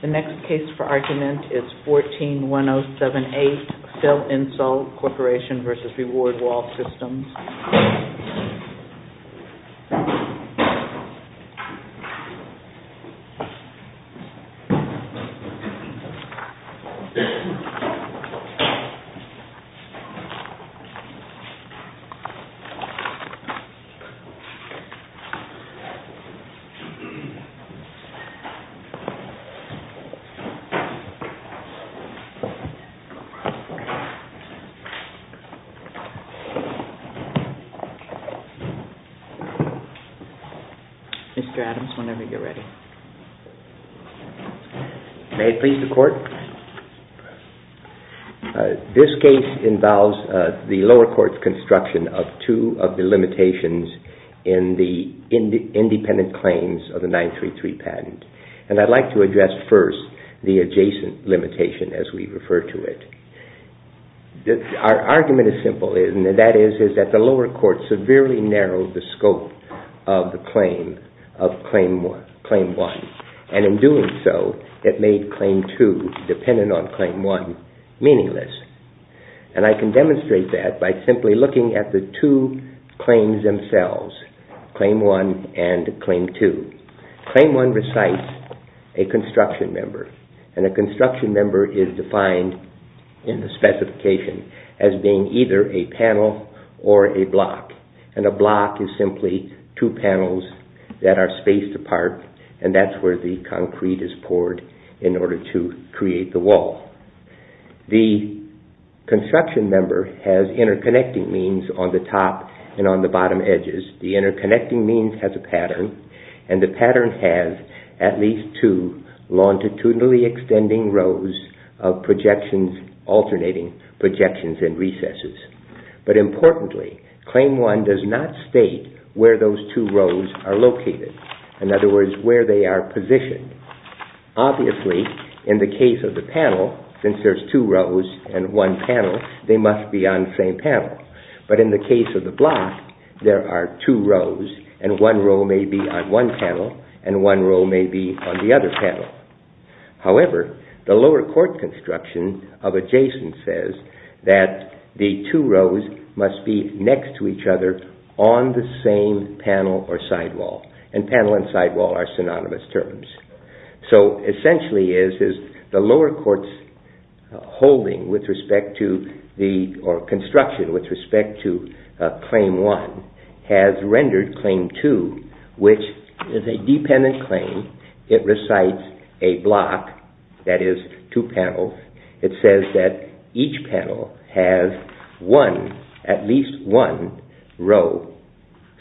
The next case for argument is 14-1078 Phil-Insul Corporation v. Reward Wall Systems. Mr. Adams, whenever you're ready. This case involves the lower court's construction of two of the limitations in the independent claims of the 933 patent. I'd like to address first the adjacent limitation as we refer to it. Our argument is simple, and that is that the lower court severely narrowed the scope of the claim of Claim 1. And in doing so, it made Claim 2, dependent on Claim 1, meaningless. And I can demonstrate that by simply looking at the two claims themselves, Claim 1 and Claim 2. Claim 1 recites a construction member. And a construction member is defined in the specification as being either a panel or a block. And a block is simply two panels that are spaced apart, and that's where the concrete is poured in order to create the wall. The construction member has interconnecting means on the top and on the bottom edges. The interconnecting means has a pattern. And the pattern has at least two longitudinally extending rows of projections, alternating projections and recesses. But importantly, Claim 1 does not state where those two rows are located. In other words, where they are positioned. Obviously, in the case of the panel, since there's two rows and one panel, they must be on the same panel. But in the case of the block, there are two rows, and one row may be on one panel, and one row may be on the other panel. However, the lower court construction of adjacent says that the two rows must be next to each other on the same panel or sidewall. And panel and sidewall are synonymous terms. So essentially, the lower court's holding with respect to the construction with respect to Claim 1 has rendered Claim 2, which is a dependent claim. It recites a block, that is, two panels. It says that each panel has one, at least one, row.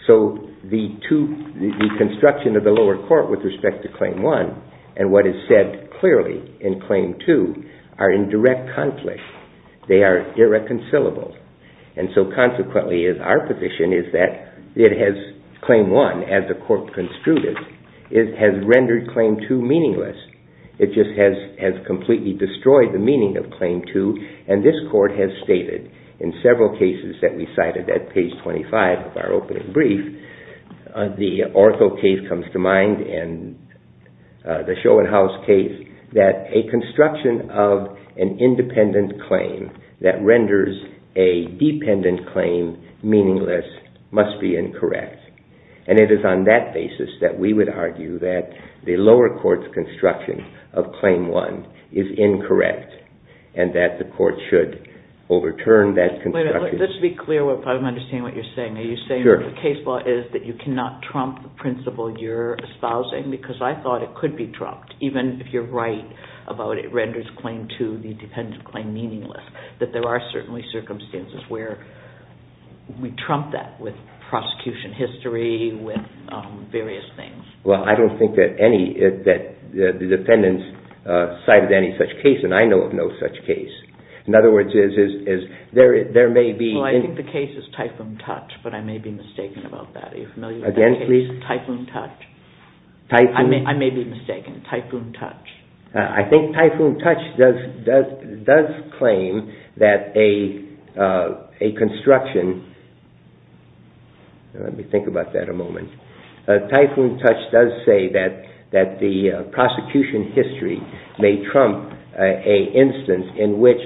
So the construction of the lower court with respect to Claim 1 and what is said clearly in Claim 2 are in direct conflict. They are irreconcilable. And so consequently, our position is that Claim 1, as the court construed it, has rendered Claim 2 meaningless. It just has completely destroyed the meaning of Claim 2. And this court has stated in several cases that we cited at page 25 of our opening brief, the Oracle case comes to mind and the Schoenhaus case, that a construction of an independent claim that renders a dependent claim meaningless must be incorrect. And it is on that basis that we would argue that the lower court's construction of Claim 1 is incorrect and that the court should overturn that construction. Wait a minute. Let's be clear. I don't understand what you're saying. Are you saying that the case law is that you cannot trump the principle you're espousing? Because I thought it could be trumped, even if you're right about it renders Claim 2, the dependent claim, meaningless. That there are certainly circumstances where we trump that with prosecution history, with various things. Well, I don't think that the defendants cited any such case, and I know of no such case. In other words, there may be... Well, I think the case is Typhoon Touch, but I may be mistaken about that. Are you familiar with that case? Again, please. Typhoon Touch. Typhoon... I may be mistaken. Typhoon Touch. I think Typhoon Touch does claim that a construction... Let me think about that a moment. Typhoon Touch does say that the prosecution history may trump an instance in which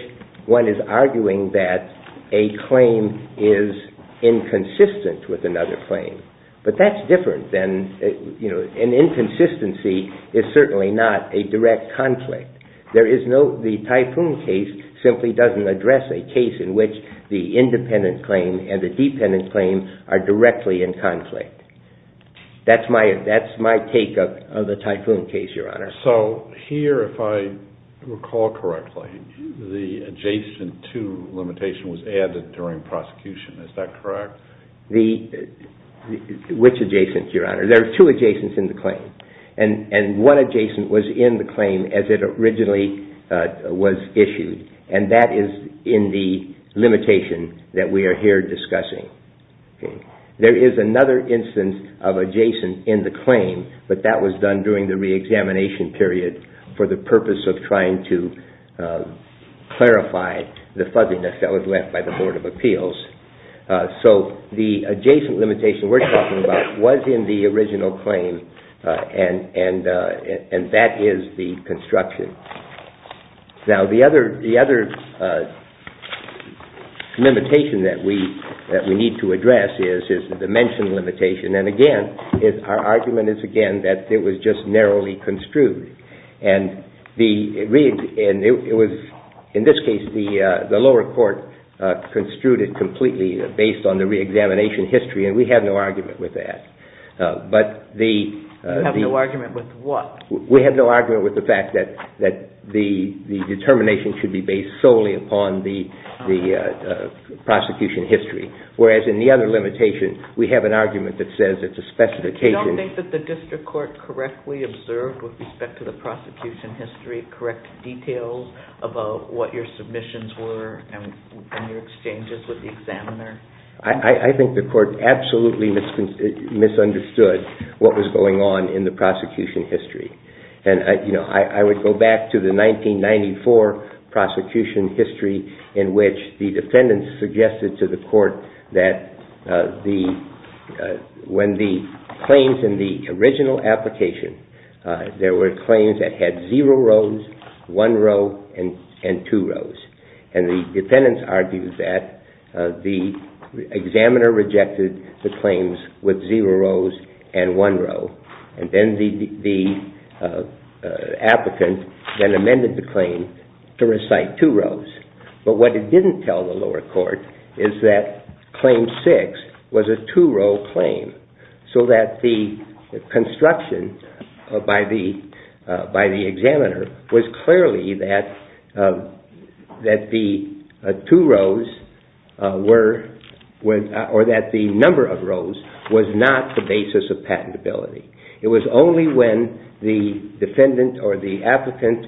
one is arguing that a claim is inconsistent with another claim. But that's different than... An inconsistency is certainly not a direct conflict. There is no... The Typhoon case simply doesn't address a case in which the independent claim and the dependent claim are directly in conflict. That's my take of the Typhoon case, Your Honor. So here, if I recall correctly, the adjacent to limitation was added during prosecution. Is that correct? Which adjacent, Your Honor? There are two adjacents in the claim. And one adjacent was in the claim as it originally was issued, and that is in the limitation that we are here discussing. There is another instance of adjacent in the claim, but that was done during the reexamination period for the purpose of trying to clarify the fuzziness that was left by the Board of Appeals. So the adjacent limitation we're talking about was in the original claim, and that is the construction. Now, the other limitation that we need to address is the dimension limitation. And again, our argument is, again, that it was just narrowly construed. In this case, the lower court construed it completely based on the reexamination history, and we have no argument with that. You have no argument with what? We have no argument with the fact that the determination should be based solely upon the prosecution history. Whereas in the other limitation, we have an argument that says it's a specification... I think the court absolutely misunderstood what was going on in the prosecution history. And, you know, I would go back to the 1994 prosecution history in which the defendants suggested to the court that when the claims in the original application, there were claims that had zero rows, one row, and two rows. And the defendants argued that the examiner rejected the claims with zero rows and one row. And then the applicant then amended the claim to recite two rows. But what it didn't tell the lower court is that claim six was a two-row claim. So that the construction by the examiner was clearly that the two rows were... or that the number of rows was not the basis of patentability. It was only when the defendant or the applicant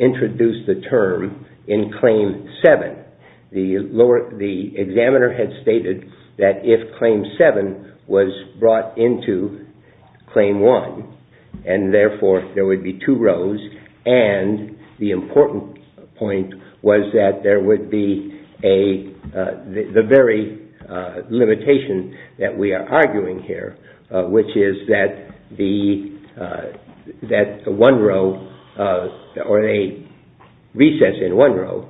introduced the term in claim seven, the examiner had stated that if claim seven was brought into claim one, and therefore there would be two rows, and the important point was that there would be a... that the one row or a recess in one row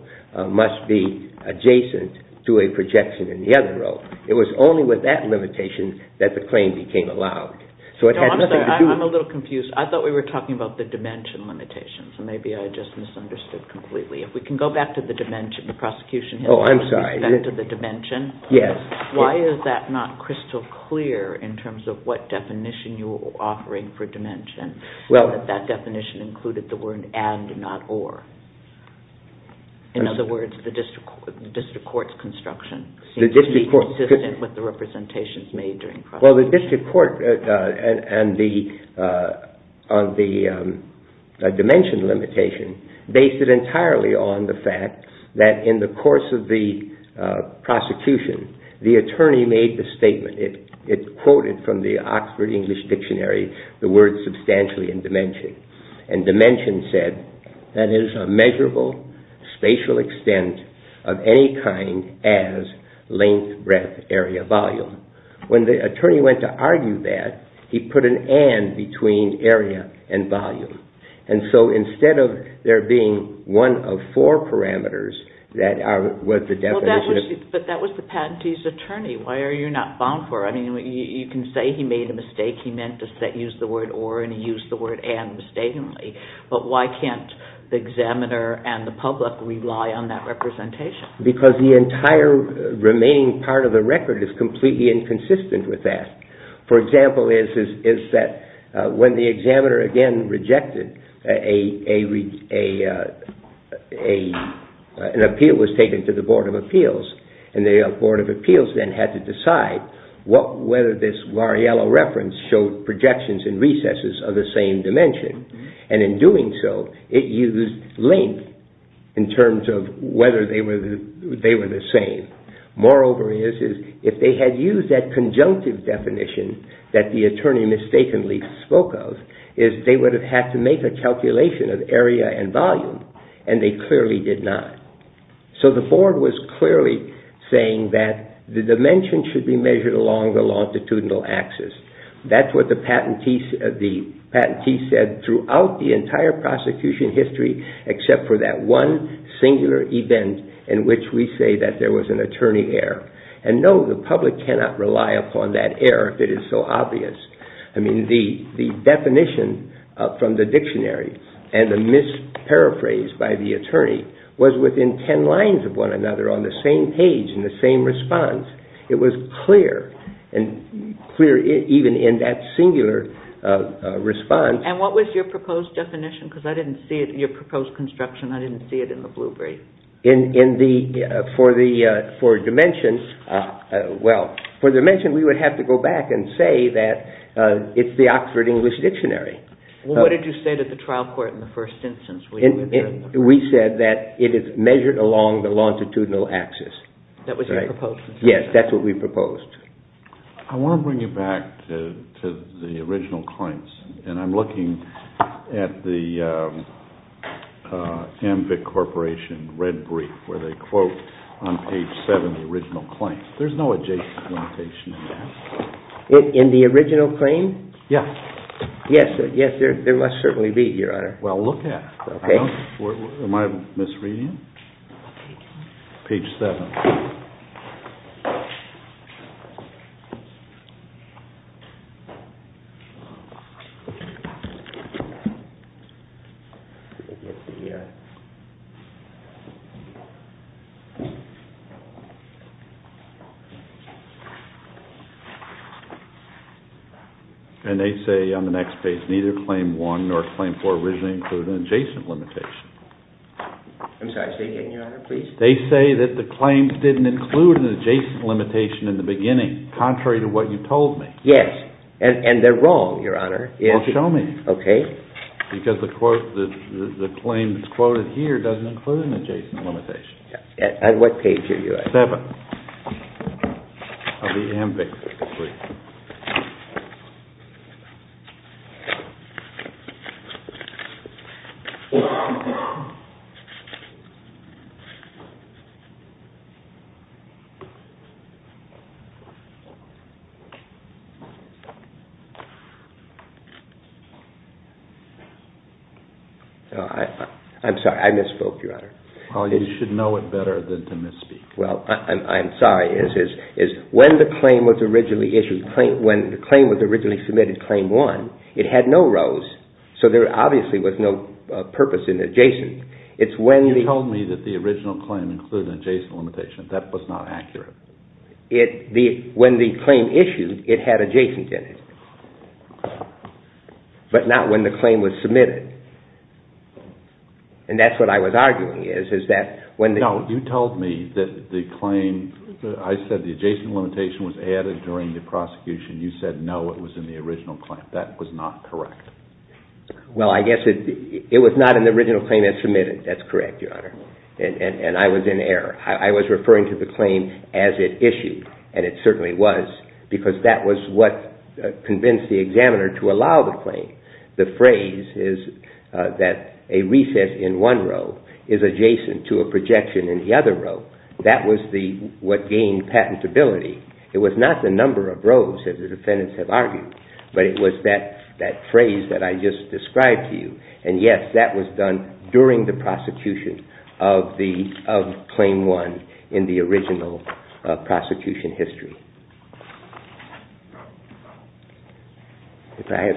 must be adjacent to a projection in the other row. It was only with that limitation that the claim became allowed. So it had nothing to do... No, I'm sorry. I'm a little confused. I thought we were talking about the dimension limitation. So maybe I just misunderstood completely. If we can go back to the dimension, the prosecution history... Oh, I'm sorry. Go back to the dimension? Yes. Why is that not crystal clear in terms of what definition you're offering for dimension? Well... That definition included the word and, not or. In other words, the district court's construction seems to be consistent with the representations made during... Well, the district court and the dimension limitation based it entirely on the fact that in the course of the prosecution, the attorney made the statement. It quoted from the Oxford English Dictionary the word substantially in dimension, and dimension said that it is a measurable spatial extent of any kind as length, breadth, area, volume. When the attorney went to argue that, he put an and between area and volume. And so instead of there being one of four parameters that was the definition... But that was the patentee's attorney. Why are you not bound for it? I mean, you can say he made a mistake. He meant to use the word or, and he used the word and mistakenly. But why can't the examiner and the public rely on that representation? Because the entire remaining part of the record is completely inconsistent with that. For example, is that when the examiner again rejected, an appeal was taken to the Board of Appeals, and the Board of Appeals then had to decide whether this Lariello reference showed projections and recesses of the same dimension. And in doing so, it used length in terms of whether they were the same. Moreover, if they had used that conjunctive definition that the attorney mistakenly spoke of, they would have had to make a calculation of area and volume, and they clearly did not. So the Board was clearly saying that the dimension should be measured along the longitudinal axis. That's what the patentee said throughout the entire prosecution history, except for that one singular event in which we say that there was an attorney error. And no, the public cannot rely upon that error if it is so obvious. I mean, the definition from the dictionary and the misparaphrased by the attorney was within ten lines of one another on the same page and the same response. It was clear, and clear even in that singular response. And what was your proposed definition? Because I didn't see it in your proposed construction. I didn't see it in the blue brief. For dimension, we would have to go back and say that it's the Oxford English Dictionary. What did you say to the trial court in the first instance? We said that it is measured along the longitudinal axis. That was your proposed definition? Yes, that's what we proposed. I want to bring you back to the original claims. And I'm looking at the Amvic Corporation red brief where they quote on page 7 the original claim. There's no adjacent limitation in that. In the original claim? Yes. Yes, there must certainly be, Your Honor. Well, look at it. Okay. Am I misreading it? Page 7. Okay. And they say on the next page, neither claim 1 nor claim 4 originally include an adjacent limitation. I'm sorry, say again, Your Honor, please. They say that the claims didn't include an adjacent limitation in the beginning, contrary to what you told me. Yes, and they're wrong, Your Honor. Well, show me. Okay. Because the claims quoted here doesn't include an adjacent limitation. On what page are you at? Page 7 of the Amvic brief. I'm sorry, I misspoke, Your Honor. Well, you should know it better than to misspeak. Well, I'm sorry. When the claim was originally submitted, claim 1, it had no rows, so there obviously was no purpose in adjacent. You told me that the original claim included an adjacent limitation. That was not accurate. When the claim issued, it had adjacent in it, but not when the claim was submitted. And that's what I was arguing is, is that when the – No, you told me that the claim – I said the adjacent limitation was added during the prosecution. You said no, it was in the original claim. That was not correct. Well, I guess it was not in the original claim it submitted. That's correct, Your Honor. And I was in error. I was referring to the claim as it issued, and it certainly was, because that was what convinced the examiner to allow the claim. The phrase is that a recess in one row is adjacent to a projection in the other row. That was what gained patentability. It was not the number of rows that the defendants have argued, but it was that phrase that I just described to you. And yes, that was done during the prosecution of claim 1 in the original prosecution history. If I have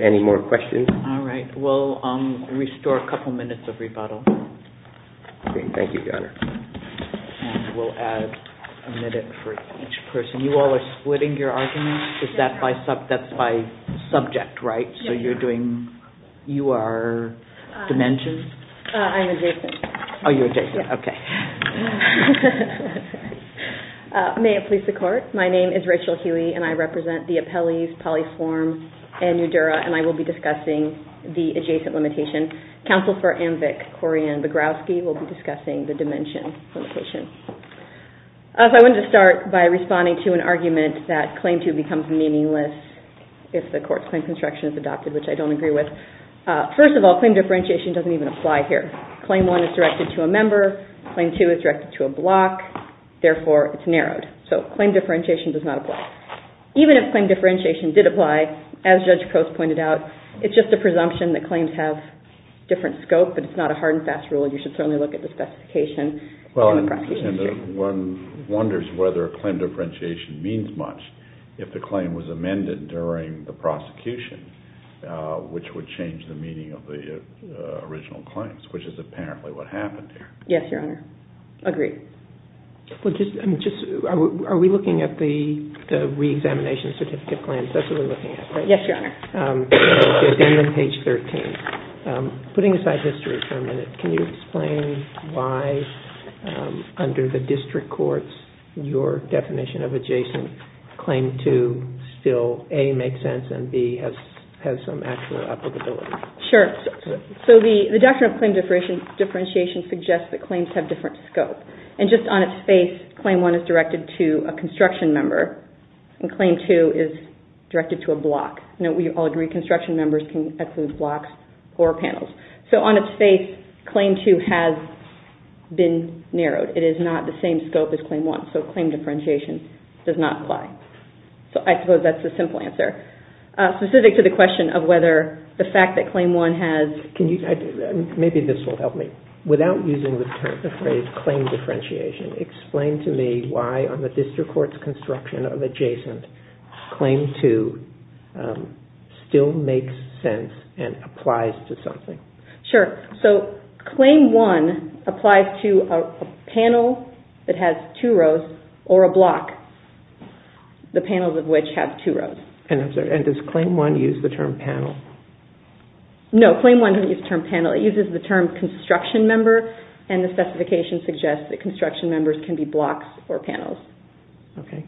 any more questions. All right. We'll restore a couple minutes of rebuttal. Okay. Thank you, Your Honor. And we'll add a minute for each person. You all are splitting your arguments? Is that by – that's by subject, right? Yes. So you're doing – you are dimensions? I'm adjacent. Oh, you're adjacent. Yes. Okay. May it please the Court. My name is Rachel Hewey, and I represent the appellees Polly Swarm and Eudora, and I will be discussing the adjacent limitation. Counsel for AMVIC, Corian Begrowski, will be discussing the dimension limitation. I wanted to start by responding to an argument that claim 2 becomes meaningless if the court's claim construction is adopted, which I don't agree with. First of all, claim differentiation doesn't even apply here. Claim 1 is directed to a member. Claim 2 is directed to a block. Therefore, it's narrowed. So claim differentiation does not apply. Even if claim differentiation did apply, as Judge Coates pointed out, it's just a presumption that claims have different scope, but it's not a hard and fast rule, and you should certainly look at the specification in the prosecution. Well, and one wonders whether claim differentiation means much if the claim was amended during the prosecution, which would change the meaning of the original claims, which is apparently what happened here. Yes, Your Honor. Agreed. Are we looking at the reexamination certificate claims? That's what we're looking at, right? Yes, Your Honor. It's in page 13. Putting aside history for a minute, can you explain why, under the district courts, your definition of adjacent claim 2 still, A, makes sense, and B, has some actual applicability? Sure. So the doctrine of claim differentiation suggests that claims have different scope. And just on its face, claim 1 is directed to a construction member, and claim 2 is directed to a block. Now, we all agree construction members can exclude blocks or panels. So on its face, claim 2 has been narrowed. It is not the same scope as claim 1. So claim differentiation does not apply. So I suppose that's the simple answer. Specific to the question of whether the fact that claim 1 has... Maybe this will help me. Without using the term, the phrase claim differentiation, explain to me why, on the district court's construction of adjacent, claim 2 still makes sense and applies to something. Sure. So claim 1 applies to a panel that has two rows or a block, the panels of which have two rows. And does claim 1 use the term panel? No, claim 1 doesn't use the term panel. It uses the term construction member, and the specification suggests that construction members can be blocks or panels. Okay.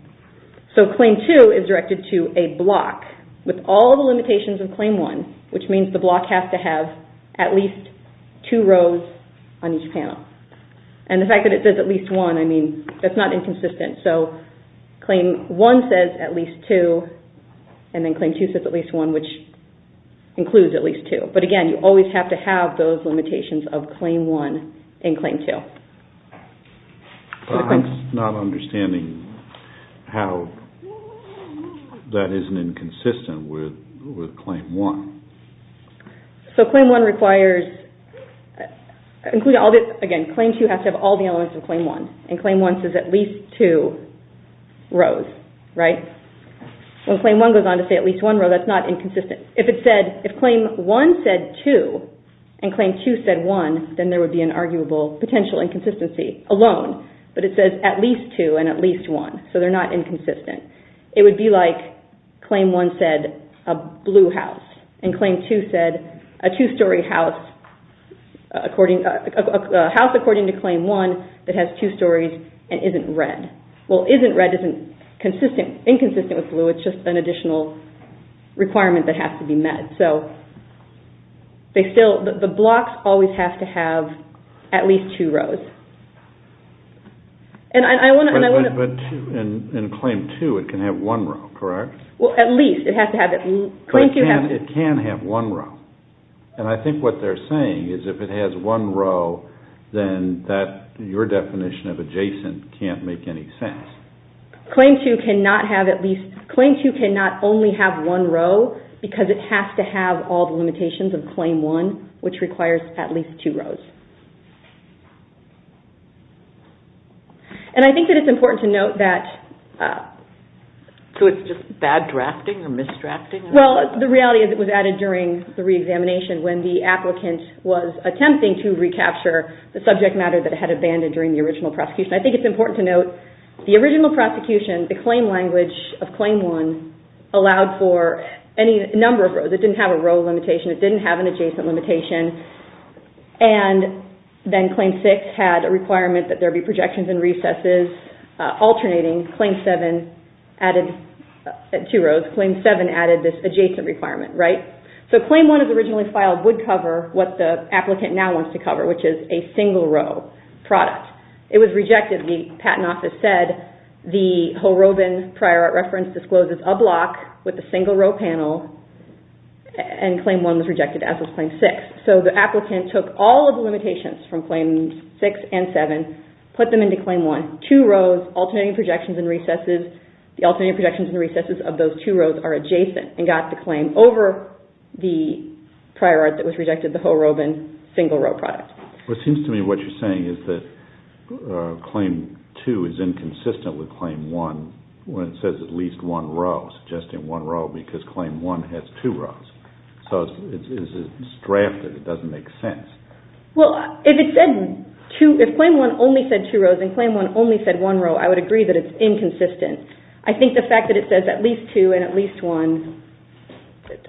So claim 2 is directed to a block with all the limitations of claim 1, which means the block has to have at least two rows on each panel. And the fact that it says at least one, I mean, that's not inconsistent. So claim 1 says at least two, and then claim 2 says at least one, which includes at least two. But, again, you always have to have those limitations of claim 1 and claim 2. I'm not understanding how that isn't inconsistent with claim 1. So claim 1 requires... Again, claim 2 has to have all the elements of claim 1, and claim 1 says at least two rows, right? When claim 1 goes on to say at least one row, that's not inconsistent. If claim 1 said two and claim 2 said one, then there would be an arguable potential inconsistency alone. But it says at least two and at least one, so they're not inconsistent. It would be like claim 1 said a blue house, and claim 2 said a two-story house according to claim 1 that has two stories and isn't red. Well, isn't red isn't inconsistent with blue. So it's just an additional requirement that has to be met. So the blocks always have to have at least two rows. And I want to... But in claim 2, it can have one row, correct? Well, at least. It has to have... But it can have one row. And I think what they're saying is if it has one row, then your definition of adjacent can't make any sense. Claim 2 cannot have at least... Claim 2 cannot only have one row because it has to have all the limitations of claim 1, which requires at least two rows. And I think that it's important to note that... So it's just bad drafting or misdrafting? Well, the reality is it was added during the re-examination when the applicant was attempting to recapture the subject matter that it had abandoned during the original prosecution. I think it's important to note the original prosecution, the claim language of claim 1, allowed for any number of rows. It didn't have a row limitation. It didn't have an adjacent limitation. And then claim 6 had a requirement that there be projections and recesses alternating. Claim 7 added two rows. Claim 7 added this adjacent requirement, right? So claim 1 is originally filed would cover what the applicant now wants to cover, which is a single row product. It was rejected. The Patent Office said the Ho-Robin prior art reference discloses a block with a single row panel, and claim 1 was rejected as was claim 6. So the applicant took all of the limitations from claims 6 and 7, put them into claim 1. Two rows, alternating projections and recesses. The alternating projections and recesses of those two rows are adjacent and got the claim over the prior art that was rejected, the Ho-Robin single row product. Well, it seems to me what you're saying is that claim 2 is inconsistent with claim 1 when it says at least one row, suggesting one row, because claim 1 has two rows. So it's drafted. It doesn't make sense. Well, if it said two, if claim 1 only said two rows and claim 1 only said one row, I would agree that it's inconsistent. I think the fact that it says at least two and at least one,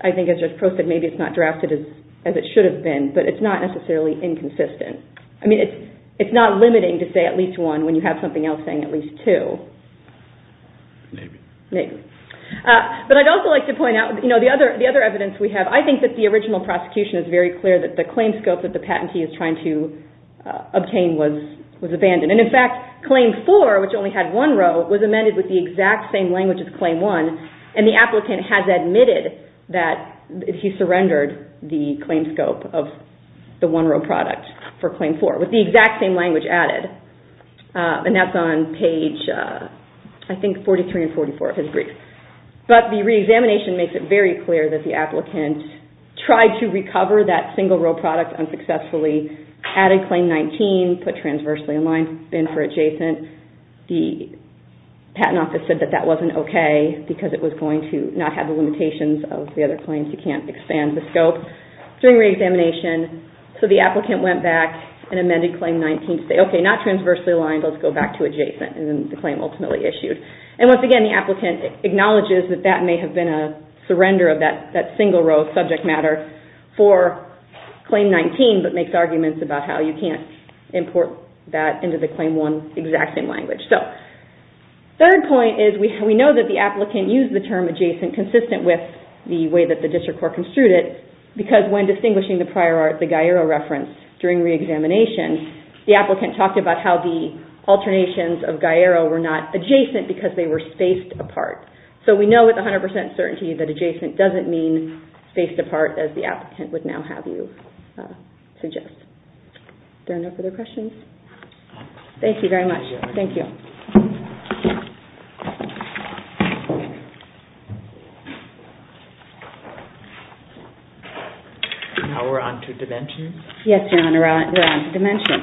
I think as Judge Prost said, maybe it's not drafted as it should have been, but it's not necessarily inconsistent. I mean, it's not limiting to say at least one when you have something else saying at least two. Maybe. Maybe. But I'd also like to point out, you know, the other evidence we have, I think that the original prosecution is very clear that the claim scope that the patentee is trying to obtain was abandoned. And in fact, claim 4, which only had one row, was amended with the exact same language as claim 1, and the applicant has admitted that he surrendered the claim scope of the one row product for claim 4 with the exact same language added. And that's on page, I think, 43 and 44 of his brief. But the reexamination makes it very clear that the applicant tried to recover that single row product unsuccessfully, added claim 19, put transversely in line, bid for adjacent. The patent office said that that wasn't okay because it was going to not have the limitations of the other claims. You can't expand the scope. During reexamination, so the applicant went back and amended claim 19 to say, okay, not transversely aligned, let's go back to adjacent. And then the claim ultimately issued. And once again, the applicant acknowledges that that may have been a surrender of that single row subject matter for claim 19, but makes arguments about how you can't import that into the claim 1, exact same language. Third point is we know that the applicant used the term adjacent consistent with the way that the district court construed it because when distinguishing the prior art, the Gaiero reference during reexamination, the applicant talked about how the alternations of Gaiero were not adjacent because they were spaced apart. So we know with 100% certainty that adjacent doesn't mean spaced apart as the applicant would now have you suggest. Are there no further questions? Thank you very much. Thank you. Now we're on to dimension. Yes, Your Honor, we're on to dimension.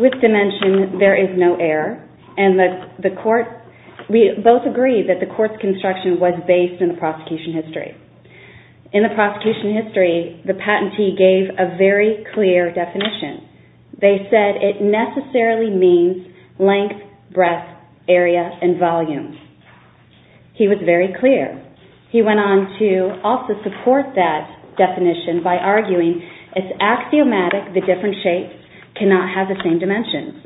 With dimension, there is no error. And the court, we both agree that the court's construction was based in the prosecution history. In the prosecution history, the patentee gave a very clear definition. They said it necessarily means length, breadth, area, and volume. He was very clear. He went on to also support that definition by arguing it's axiomatic the different shapes cannot have the same dimensions.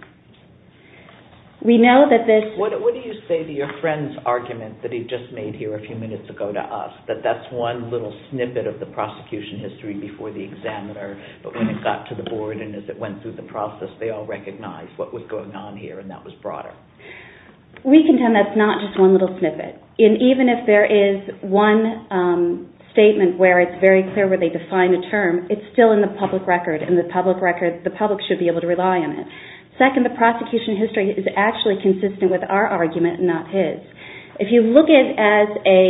We know that this... What do you say to your friend's argument that he just made here a few minutes ago to us, that that's one little snippet of the prosecution history before the examiner, but when it got to the board and as it went through the process, they all recognized what was going on here and that was broader? We contend that's not just one little snippet. And even if there is one statement where it's very clear where they define a term, it's still in the public record, and the public should be able to rely on it. Second, the prosecution history is actually consistent with our argument and not his. If you look at it as a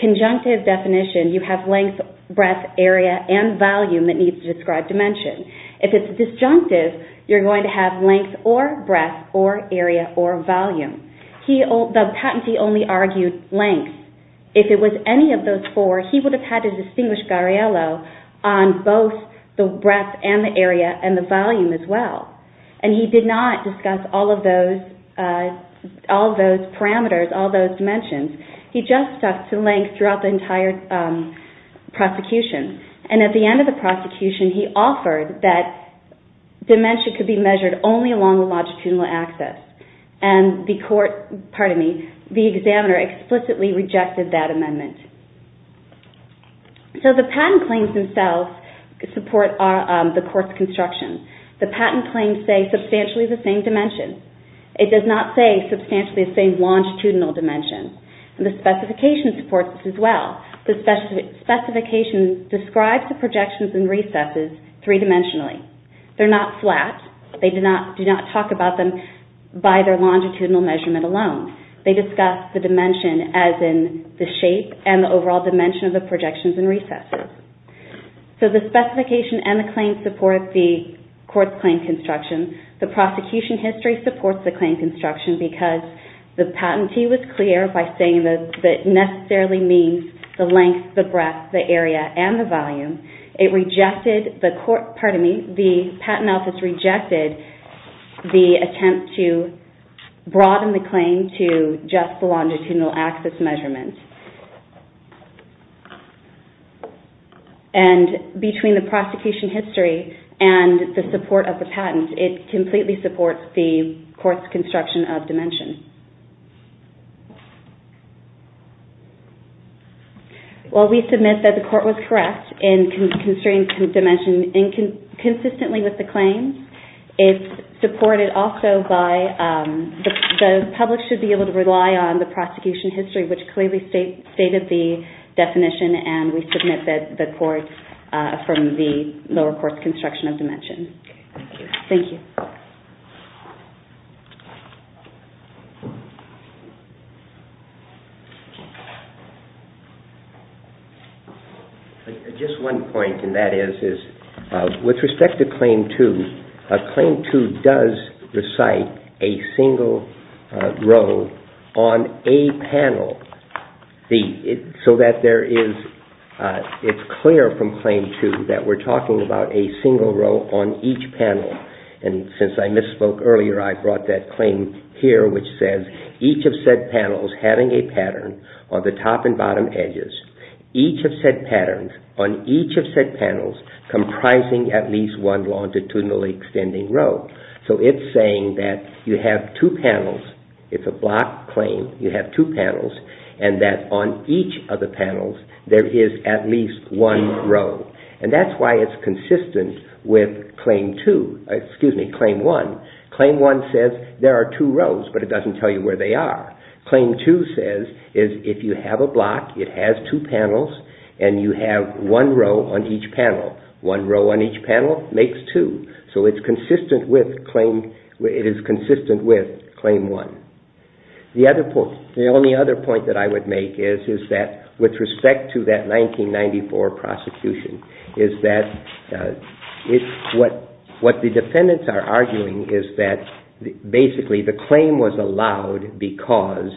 conjunctive definition, you have length, breadth, area, and volume that need to describe dimension. If it's disjunctive, you're going to have length or breadth or area or volume. The patentee only argued length. If it was any of those four, he would have had to distinguish Gariello on both the breadth and the area and the volume as well. And he did not discuss all of those parameters, all those dimensions. He just stuck to length throughout the entire prosecution. And at the end of the prosecution, he offered that dimension could be measured only along the longitudinal axis. And the examiner explicitly rejected that amendment. So the patent claims themselves support the court's construction. The patent claims say substantially the same dimension. It does not say substantially the same longitudinal dimension. And the specification supports this as well. The specification describes the projections and recesses three-dimensionally. They're not flat. They do not talk about them by their longitudinal measurement alone. They discuss the dimension as in the shape and the overall dimension of the projections and recesses. So the specification and the claim support the court's claim construction. The prosecution history supports the claim construction because the patentee was clear by saying that it necessarily means the length, the breadth, the area, and the volume. The patent office rejected the attempt to broaden the claim to just the longitudinal axis measurement. And between the prosecution history and the support of the patent, it completely supports the court's construction of dimension. While we submit that the court was correct in constraining dimension consistently with the claims, it's supported also by the public should be able to rely on the prosecution history, which clearly stated the definition, and we submit that the court from the lower court's construction of dimension. Thank you. Just one point, and that is, with respect to Claim 2, Claim 2 does recite a single row on a panel. So that there is, it's clear from Claim 2 that we're talking about a single row on each panel. And since I misspoke earlier, I brought that claim here, which says, each of said panels having a pattern on the top and bottom edges. Each of said patterns on each of said panels comprising at least one longitudinal extending row. So it's saying that you have two panels. It's a block claim. You have two panels. And that on each of the panels, there is at least one row. And that's why it's consistent with Claim 1. Claim 1 says there are two rows, but it doesn't tell you where they are. Claim 2 says, if you have a block, it has two panels, and you have one row on each panel. One row on each panel makes two. So it's consistent with Claim 1. The only other point that I would make is that, with respect to that 1994 prosecution, is that what the defendants are arguing is that basically the claim was allowed because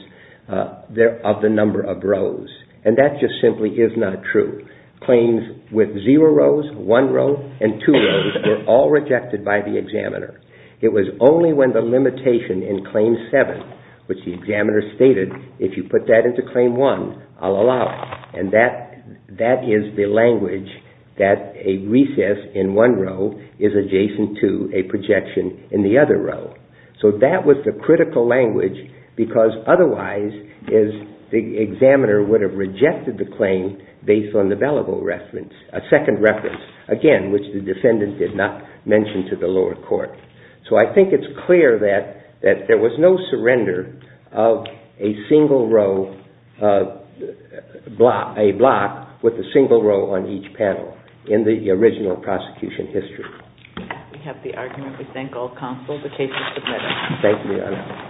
of the number of rows. And that just simply is not true. Claims with zero rows, one row, and two rows were all rejected by the examiner. It was only when the limitation in Claim 7, which the examiner stated, if you put that into Claim 1, I'll allow it. And that is the language that a recess in one row is adjacent to a projection in the other row. So that was the critical language, because otherwise the examiner would have rejected the claim based on the second reference, again, which the defendant did not mention to the lower court. So I think it's clear that there was no surrender of a block with a single row on each panel in the original prosecution history. We have the argument. We thank all counsel. The case is submitted.